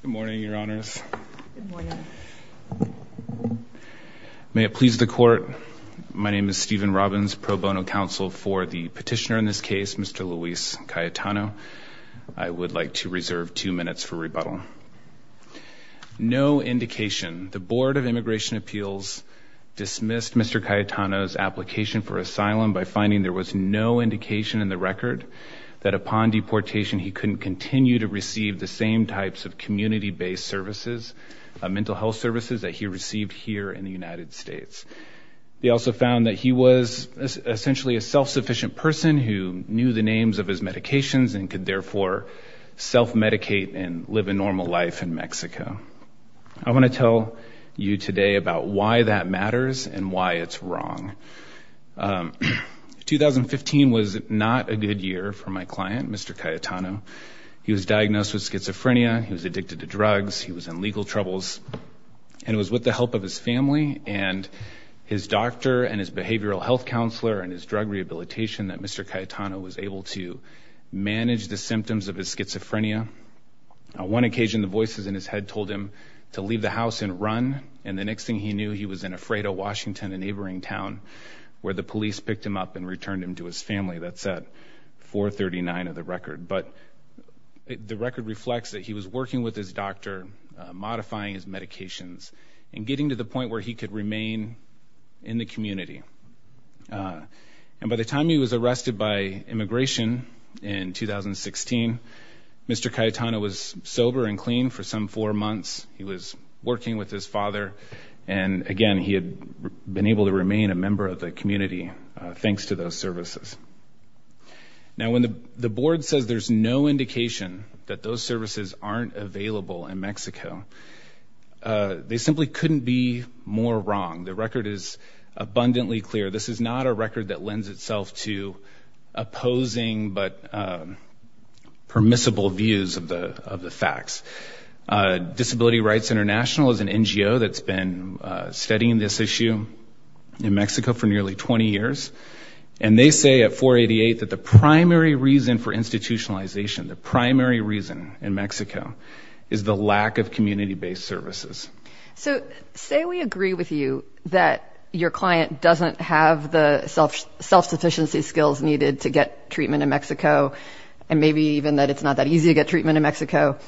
Good morning, your honors. May it please the court. My name is Stephen Robbins, pro bono counsel for the petitioner in this case, Mr. Luis Cayetano. I would like to reserve two minutes for rebuttal. No indication. The Board of Immigration Appeals dismissed Mr. Cayetano's application for asylum by finding there was no indication in the record that upon deportation he couldn't continue to receive the same types of community-based services, mental health services, that he received here in the United States. They also found that he was essentially a self-sufficient person who knew the names of his medications and could therefore self-medicate and live a normal life in Mexico. I want to tell you today about why that matters and why it's wrong. 2015 was not a good year for my client, Mr. Cayetano. He was diagnosed with schizophrenia, he was addicted to drugs, he was in legal troubles, and it was with the help of his family and his doctor and his behavioral health counselor and his drug rehabilitation that Mr. Cayetano was able to manage the symptoms of his schizophrenia. On one occasion, the voices in his head told him to leave the house and run, and the next thing he knew he was in Alfredo, Washington, a neighboring town where the police picked him up and returned him to his family. That said, 439 of the record, but the record reflects that he was working with his doctor, modifying his medications, and getting to the point where he could remain in the community. And by the time he was arrested by immigration in 2016, Mr. Cayetano was sober and clean for some four months. He was working with his father, and again, he had been able to remain a member of the community thanks to those services. Now, when the board says there's no indication that those services aren't available in Mexico, they simply couldn't be more wrong. The record is abundantly clear. This is not a record that lends itself to opposing but permissible views of the facts. Disability Rights International is an And they say at 488 that the primary reason for institutionalization, the primary reason in Mexico is the lack of community-based services. So say we agree with you that your client doesn't have the self-sufficiency skills needed to get treatment in Mexico, and maybe even that it's not that easy to get treatment in Mexico.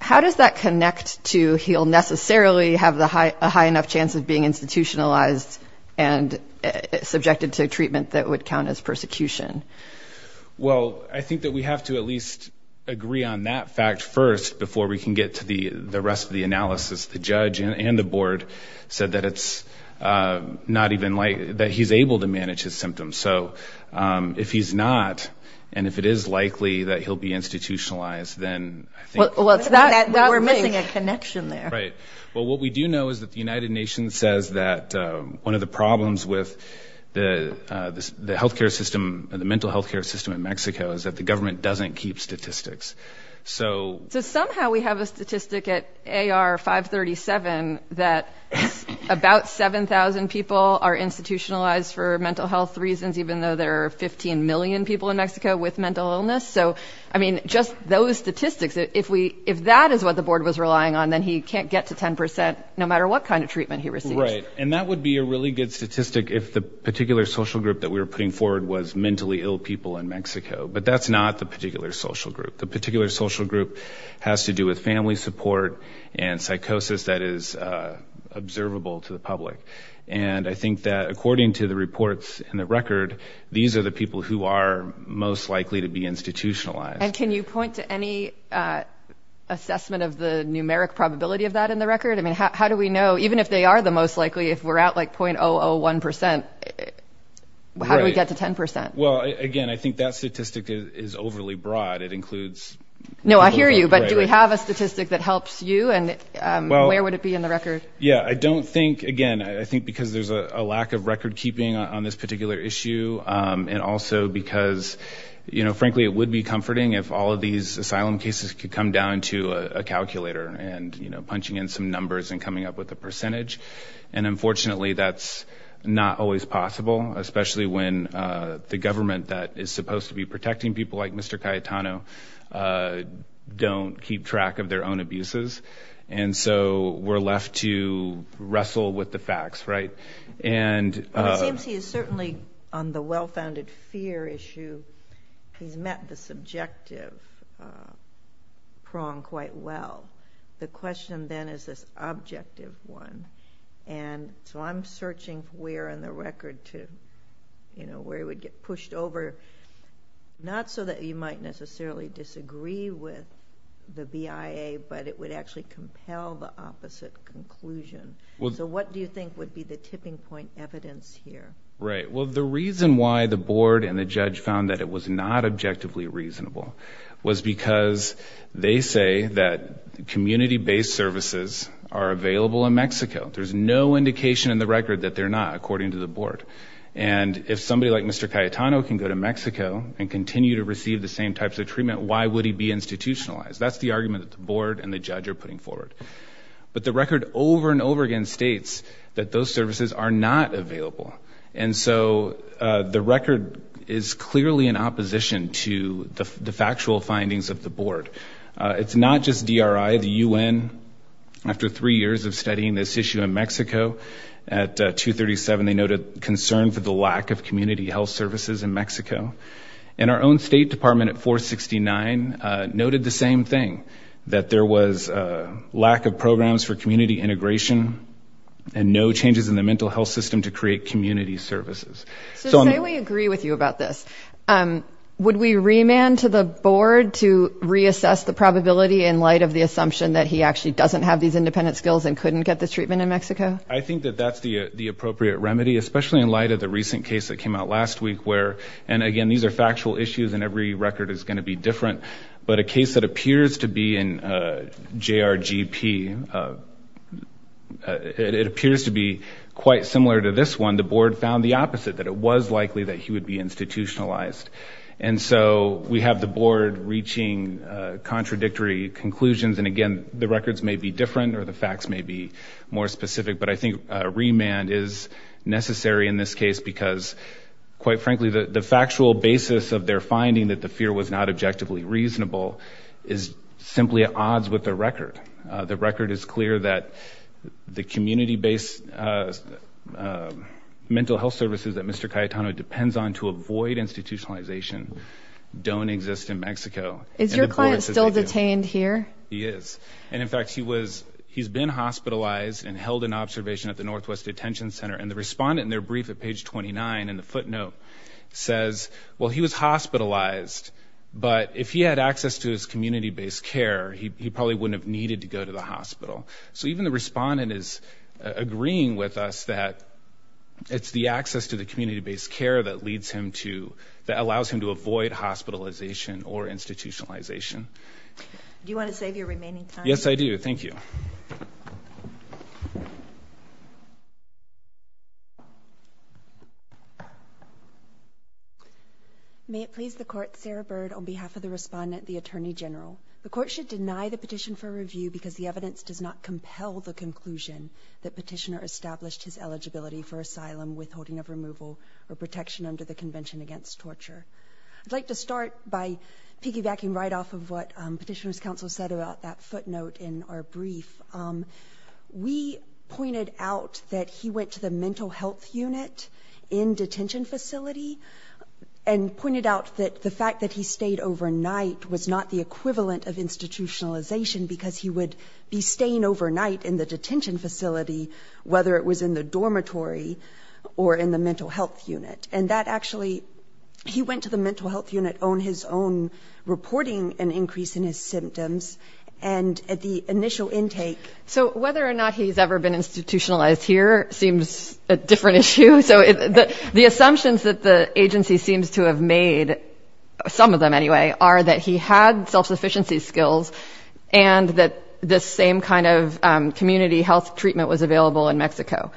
How does that connect to he'll necessarily have a high enough chance of institutionalized and subjected to treatment that would count as persecution? Well, I think that we have to at least agree on that fact first before we can get to the the rest of the analysis. The judge and the board said that it's not even like that he's able to manage his symptoms. So if he's not, and if it is likely that he'll be institutionalized, then I think we're missing a connection there. Right. Well, what we do know is that the United Nations says that one of the problems with the the health care system and the mental health care system in Mexico is that the government doesn't keep statistics. So somehow we have a statistic at AR 537 that about 7,000 people are institutionalized for mental health reasons even though there are 15 million people in Mexico with mental illness. So I mean just those statistics, if we if that is what the board was relying on, then he can't get to 10% no Right. And that would be a really good statistic if the particular social group that we were putting forward was mentally ill people in Mexico. But that's not the particular social group. The particular social group has to do with family support and psychosis that is observable to the public. And I think that according to the reports in the record, these are the people who are most likely to be institutionalized. And can you point to any assessment of the numeric probability of that in the record? I mean how do we know even if they are the most likely if we're at like 0.001% how do we get to 10%? Well again I think that statistic is overly broad. It includes... No I hear you but do we have a statistic that helps you and where would it be in the record? Yeah I don't think again I think because there's a lack of record-keeping on this particular issue and also because you know frankly it would be comforting if all of these asylum cases could come down to a calculator and you know unfortunately that's not always possible especially when the government that is supposed to be protecting people like Mr. Cayetano don't keep track of their own abuses. And so we're left to wrestle with the facts right? And it seems he is certainly on the well-founded fear issue he's met the subjective prong quite well. The question then is this objective one and so I'm searching where in the record to you know where it would get pushed over not so that you might necessarily disagree with the BIA but it would actually compel the opposite conclusion. So what do you think would be the tipping point evidence here? Right well the reason why the board and the judge found that it was not objectively reasonable was because they say that community-based services are available in Mexico. There's no indication in the record that they're not according to the board and if somebody like Mr. Cayetano can go to Mexico and continue to receive the same types of treatment why would he be institutionalized? That's the argument that the board and the judge are putting forward. But the record over and over again states that those services are not available and so the record is clearly in opposition to the factual findings of the board. It's not just DRI the UN after three years of studying this issue in Mexico at 237 they noted concern for the lack of community health services in Mexico and our own State Department at 469 noted the same thing that there was a lack of programs for community integration and no changes in the mental health system to create community services. So say we agree with you about this, would we remand to the board to reassess the probability in light of the assumption that he actually doesn't have these independent skills and couldn't get this treatment in Mexico? I think that that's the the appropriate remedy especially in light of the recent case that came out last week where and again these are factual issues and every record is going to be different but a case that appears to be in JRGP it the opposite that it was likely that he would be institutionalized and so we have the board reaching contradictory conclusions and again the records may be different or the facts may be more specific but I think remand is necessary in this case because quite frankly the the factual basis of their finding that the fear was not objectively reasonable is simply at odds with the record. The services that Mr. Cayetano depends on to avoid institutionalization don't exist in Mexico. Is your client still detained here? He is and in fact he was he's been hospitalized and held an observation at the Northwest Detention Center and the respondent in their brief at page 29 in the footnote says well he was hospitalized but if he had access to his community-based care he probably wouldn't have needed to go to the hospital. So even the respondent is agreeing with us that it's the access to the community-based care that leads him to that allows him to avoid hospitalization or institutionalization. Do you want to save your remaining time? Yes I do, thank you. May it please the court, Sarah Bird on behalf of the respondent the Attorney General. The court should deny the petition for review because the evidence does not compel the conclusion that petitioner established his eligibility for asylum withholding of removal or protection under the Convention Against Torture. I'd like to start by piggybacking right off of what Petitioners Council said about that footnote in our brief. We pointed out that he went to the mental health unit in detention facility and pointed out that the fact that he stayed overnight was not the equivalent of institutionalization because he would be staying overnight in the detention facility whether it was in the dormitory or in the mental health unit and that actually he went to the mental health unit on his own reporting an increase in his symptoms and at the initial intake. So whether or not he's ever been institutionalized here seems a different issue so the assumptions that the agency seems to have made some of them anyway are that he had self-sufficiency skills and that this same kind of community health treatment was available in Mexico.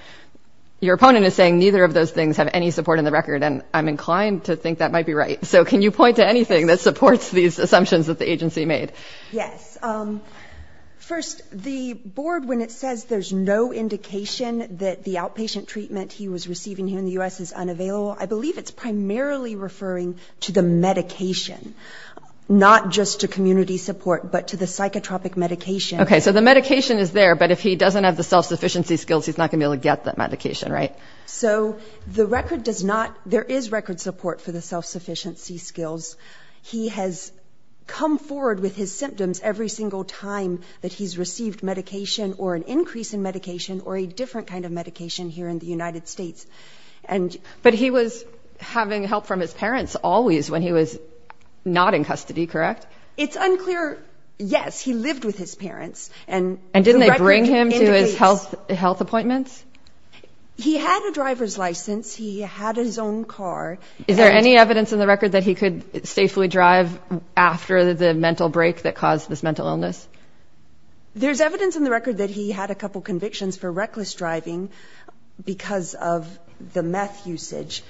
Your opponent is saying neither of those things have any support in the record and I'm inclined to think that might be right so can you point to anything that supports these assumptions that the agency made? Yes, first the board when it says there's no indication that the outpatient treatment he was receiving here in the U.S. is unavailable I believe it's primarily referring to the medication not just to community support but to the psychotropic medication. Okay so the medication is there but if he doesn't have the self-sufficiency skills he's not gonna be able to get that medication right? So the record does not there is record support for the self-sufficiency skills he has come forward with his symptoms every single time that he's received medication or an increase in medication or a different kind of medication here in the United States. But he was having help from his parents always when he was not in custody correct? It's unclear, yes he lived with his parents. And didn't they bring him to his health appointments? He had a driver's license, he had his own car. Is there any evidence in the record that he could safely drive after the mental break that caused this mental illness? There's evidence in the record that he had a couple convictions for reckless driving because of the meth usage.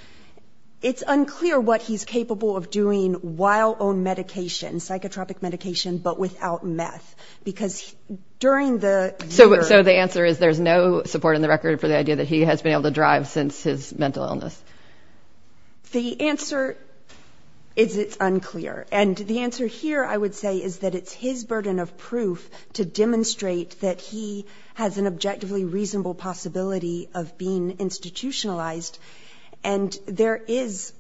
It's unclear what he's capable of doing while on medication, psychotropic medication, but without meth because during the... So the answer is there's no support in the record for the idea that he has been able to drive since his mental illness? The answer is it's unclear and the answer here I would say is that it's his burden of proof to reasonable possibility of being institutionalized and there is...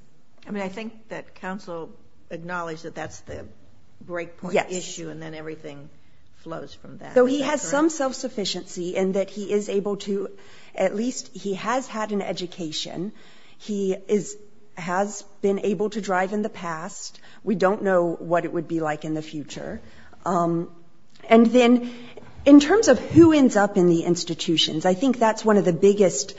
I mean I think that counsel acknowledged that that's the breakpoint issue and then everything flows from that. So he has some self-sufficiency and that he is able to, at least he has had an education, he has been able to drive in the past. We don't know what it would be like in the future. And then in terms of who ends up in the institutions, I think that's one of the biggest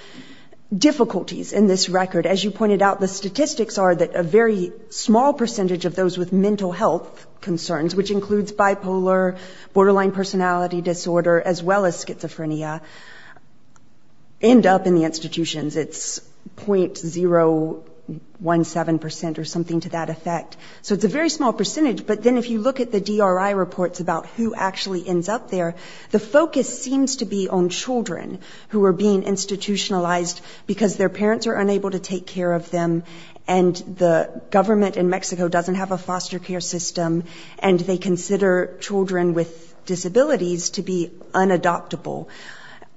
difficulties in this record. As you pointed out, the statistics are that a very small percentage of those with mental health concerns, which includes bipolar, borderline personality disorder, as well as schizophrenia, end up in the institutions. It's 0.017 percent or something to that effect. So it's a very small percentage, but then if you look at the DRI reports about who actually ends up there, the focus seems to be on children who are being institutionalized because their parents are unable to take care of them and the government in Mexico doesn't have a foster care system and they consider children with disabilities to be unadoptable.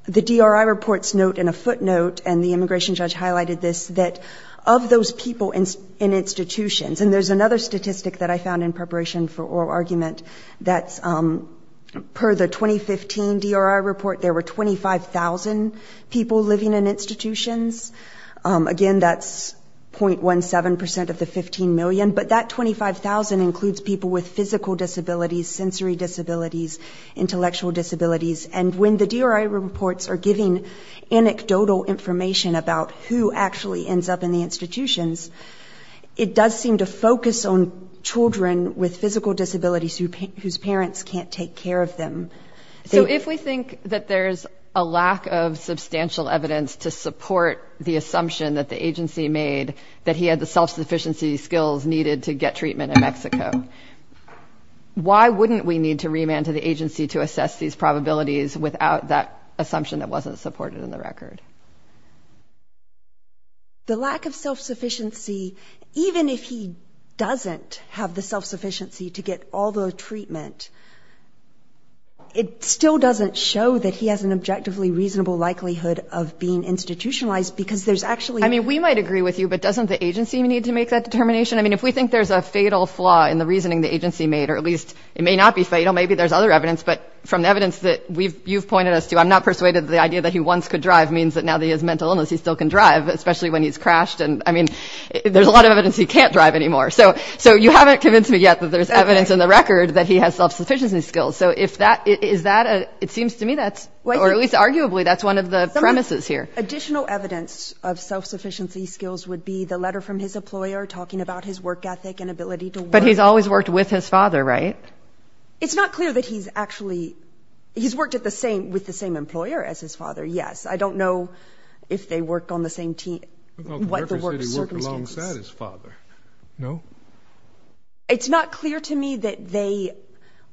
The DRI reports note in a footnote, and the immigration judge highlighted this, that of those people in institutions, and there's another statistic that I found in preparation for oral argument that's for the 2015 DRI report, there were 25,000 people living in institutions. Again, that's 0.17 percent of the 15 million, but that 25,000 includes people with physical disabilities, sensory disabilities, intellectual disabilities. And when the DRI reports are giving anecdotal information about who actually ends up in the institutions, it does seem to focus on children with physical disabilities whose parents can't take care of them. So if we think that there's a lack of substantial evidence to support the assumption that the agency made that he had the self-sufficiency skills needed to get treatment in Mexico, why wouldn't we need to remand to the agency to assess these probabilities without that assumption that wasn't supported in the record? The lack of self-sufficiency, even if he doesn't have the self-sufficiency to get all the treatment, it still doesn't show that he has an objectively reasonable likelihood of being institutionalized because there's actually- I mean, we might agree with you, but doesn't the agency need to make that determination? I mean, if we think there's a fatal flaw in the reasoning the agency made, or at least it may not be fatal, maybe there's other evidence, but from the evidence that you've pointed us to, I'm not persuaded that the idea that he once could drive means that now that he has mental illness he still can drive, especially when he's crashed, and I mean, there's a lot of evidence he can't drive anymore, so you haven't convinced me yet that there's evidence in the record that he has self-sufficiency skills, so if that, is that a, it seems to me that's, or at least arguably, that's one of the premises here. Additional evidence of self-sufficiency skills would be the letter from his employer talking about his work ethic and ability to work- But he's always worked with his father, right? It's not clear that he's actually, he's worked at the same, with the same employer as his father, yes. I don't know if they work on the same team, what is there? No? It's not clear to me that they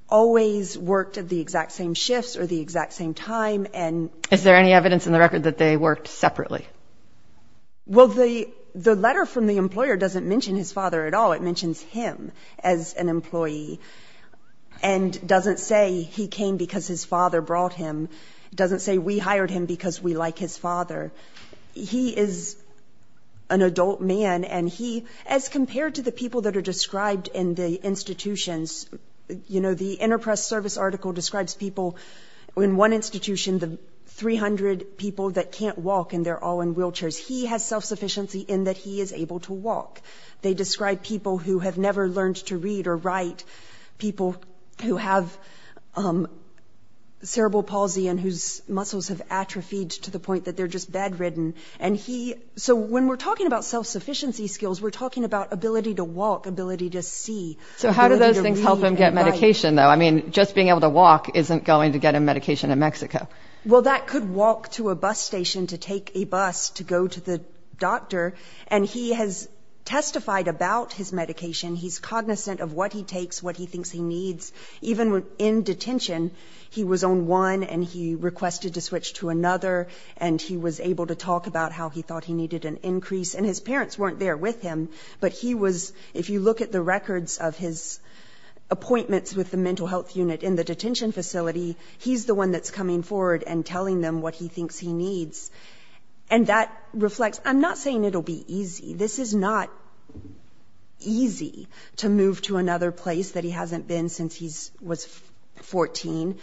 always worked at the exact same shifts or the exact same time, and- Is there any evidence in the record that they worked separately? Well the, the letter from the employer doesn't mention his father at all, it mentions him as an employee, and doesn't say he came because his father brought him, doesn't say we hired him because we like his father, he is an adult man and he, as compared to the people that are described in the institutions, you know, the Interpress Service article describes people in one institution, the 300 people that can't walk and they're all in wheelchairs, he has self-sufficiency in that he is able to walk. They describe people who have never learned to read or write, people who have cerebral palsy and whose muscles have atrophied to the point that they're just bad ridden, and he, so when we're talking about self-sufficiency skills, we're talking about ability to walk, ability to see. So how do those things help him get medication though? I mean, just being able to walk isn't going to get him medication in Mexico. Well that could walk to a bus station to take a bus to go to the doctor, and he has testified about his medication, he's cognizant of what he takes, what he thinks he needs, even in detention, he was on one and he requested to switch to another, and he was able to talk about how he thought he needed an increase, and his parents weren't there with him, but he was, if you look at the records of his appointments with the mental health unit in the detention facility, he's the one that's coming forward and telling them what he thinks he needs, and that reflects, I'm not saying it'll be easy, this is not easy to move to another place that he hasn't been since he was 14.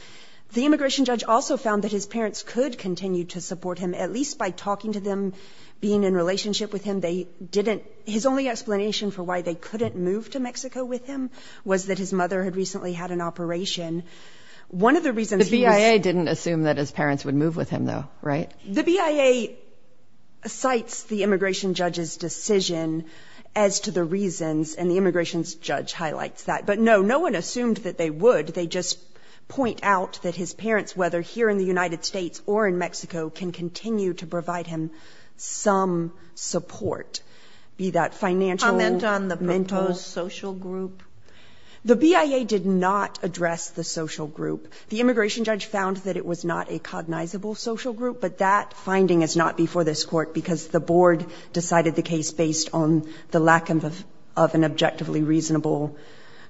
The immigration judge also found that his parents could continue to support him, at least by talking to them, being in relationship with him, they didn't, his only explanation for why they couldn't move to Mexico with him was that his mother had recently had an operation. One of the reasons... The BIA didn't assume that his parents would move with him though, right? The BIA cites the immigration judge's decision as to the reasons, and the immigration judge highlights that, but no, no one assumed that they would, they just point out that his parents, whether here in the United States, had some support, be that financial... Comment on the proposed social group? The BIA did not address the social group. The immigration judge found that it was not a cognizable social group, but that finding is not before this court because the board decided the case based on the lack of an objectively reasonable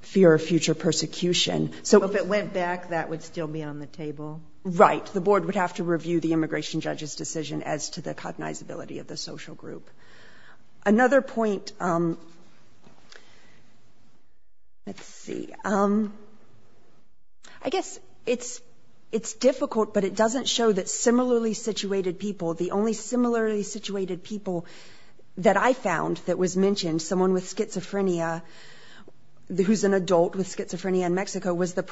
fear of future persecution. So if it went back, that would still be on the table? Right, the board would have to review the cognizability of the social group. Another point, let's see, I guess it's it's difficult, but it doesn't show that similarly situated people, the only similarly situated people that I found that was mentioned, someone with schizophrenia, who's an adult with schizophrenia in Mexico, was the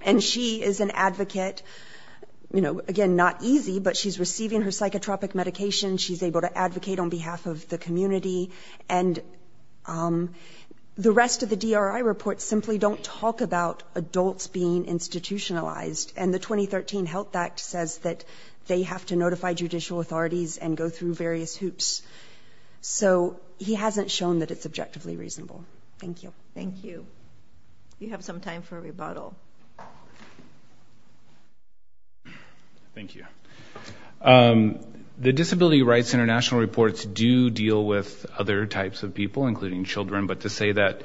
and she is an advocate, you know, again, not easy, but she's receiving her psychotropic medication, she's able to advocate on behalf of the community, and the rest of the DRI reports simply don't talk about adults being institutionalized, and the 2013 Health Act says that they have to notify judicial authorities and go through various hoops. So he hasn't shown that it's objectively reasonable. Thank you. Thank you. You have some time for a rebuttal. Thank you. The Disability Rights International reports do deal with other types of people, including children, but to say that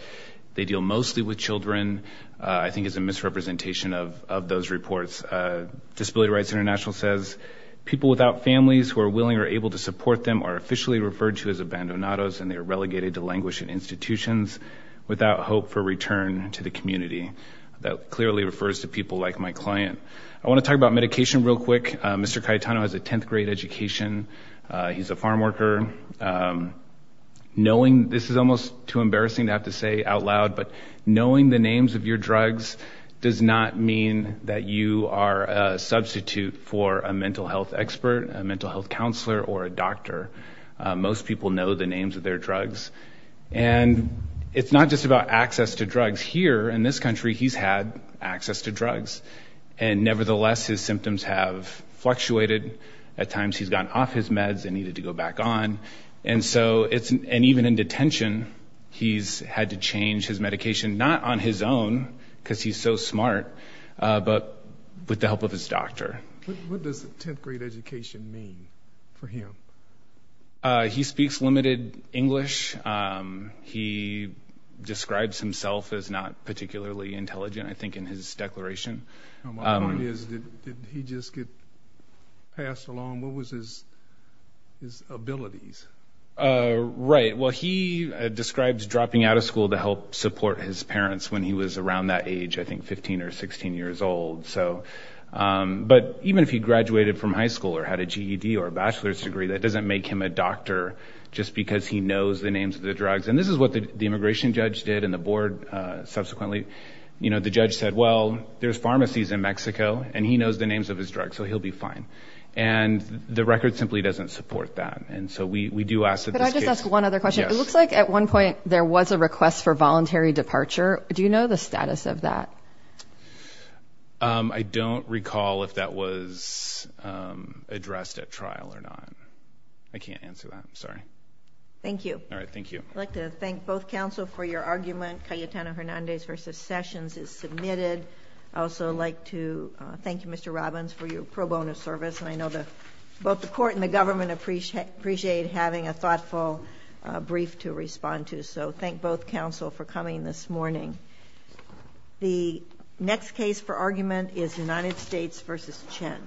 they deal mostly with children, I think, is a misrepresentation of those reports. Disability Rights International says people without families who are willing or able to support them are officially referred to as abandonados, and they are relegated to languish in institutions, without hope for return to the community. That clearly refers to people like my client. I want to talk about medication real quick. Mr. Cayetano has a 10th grade education. He's a farm worker. Knowing, this is almost too embarrassing to have to say out loud, but knowing the names of your drugs does not mean that you are a substitute for a mental health expert, a mental health counselor, or a doctor. Most people know the names of their drugs, and it's not just about access to drugs. Here, in this country, he's had access to drugs, and nevertheless, his symptoms have fluctuated. At times, he's gotten off his meds and needed to go back on, and so it's, and even in detention, he's had to change his medication, not on his own, because he's so smart, but with the help of his doctor. What does 10th grade education mean for him? He speaks limited English. He describes himself as not particularly intelligent, I think, in his declaration. My point is, did he just get passed along? What was his, his abilities? Right. Well, he describes dropping out of school to help support his parents when he was around that age, I think 15 or 16 years old, so, but even if he graduated from high school or had a GED or a bachelor's degree, that doesn't make him a doctor just because he knows the names of the drugs, and this is what the immigration judge did, and the board subsequently, you know, the judge said, well, there's pharmacies in Mexico, and he knows the names of his drugs, so he'll be fine, and the record simply doesn't support that, and so we do ask that this case... Could I just ask one other question? Yes. It looks like at one point, there was a status of that. I don't recall if that was addressed at trial or not. I can't answer that, I'm sorry. Thank you. All right, thank you. I'd like to thank both counsel for your argument. Cayetano-Hernandez v. Sessions is submitted. I'd also like to thank you, Mr. Robbins, for your pro bono service, and I know that both the court and the government appreciate having a The next case for argument is United States v. Chen.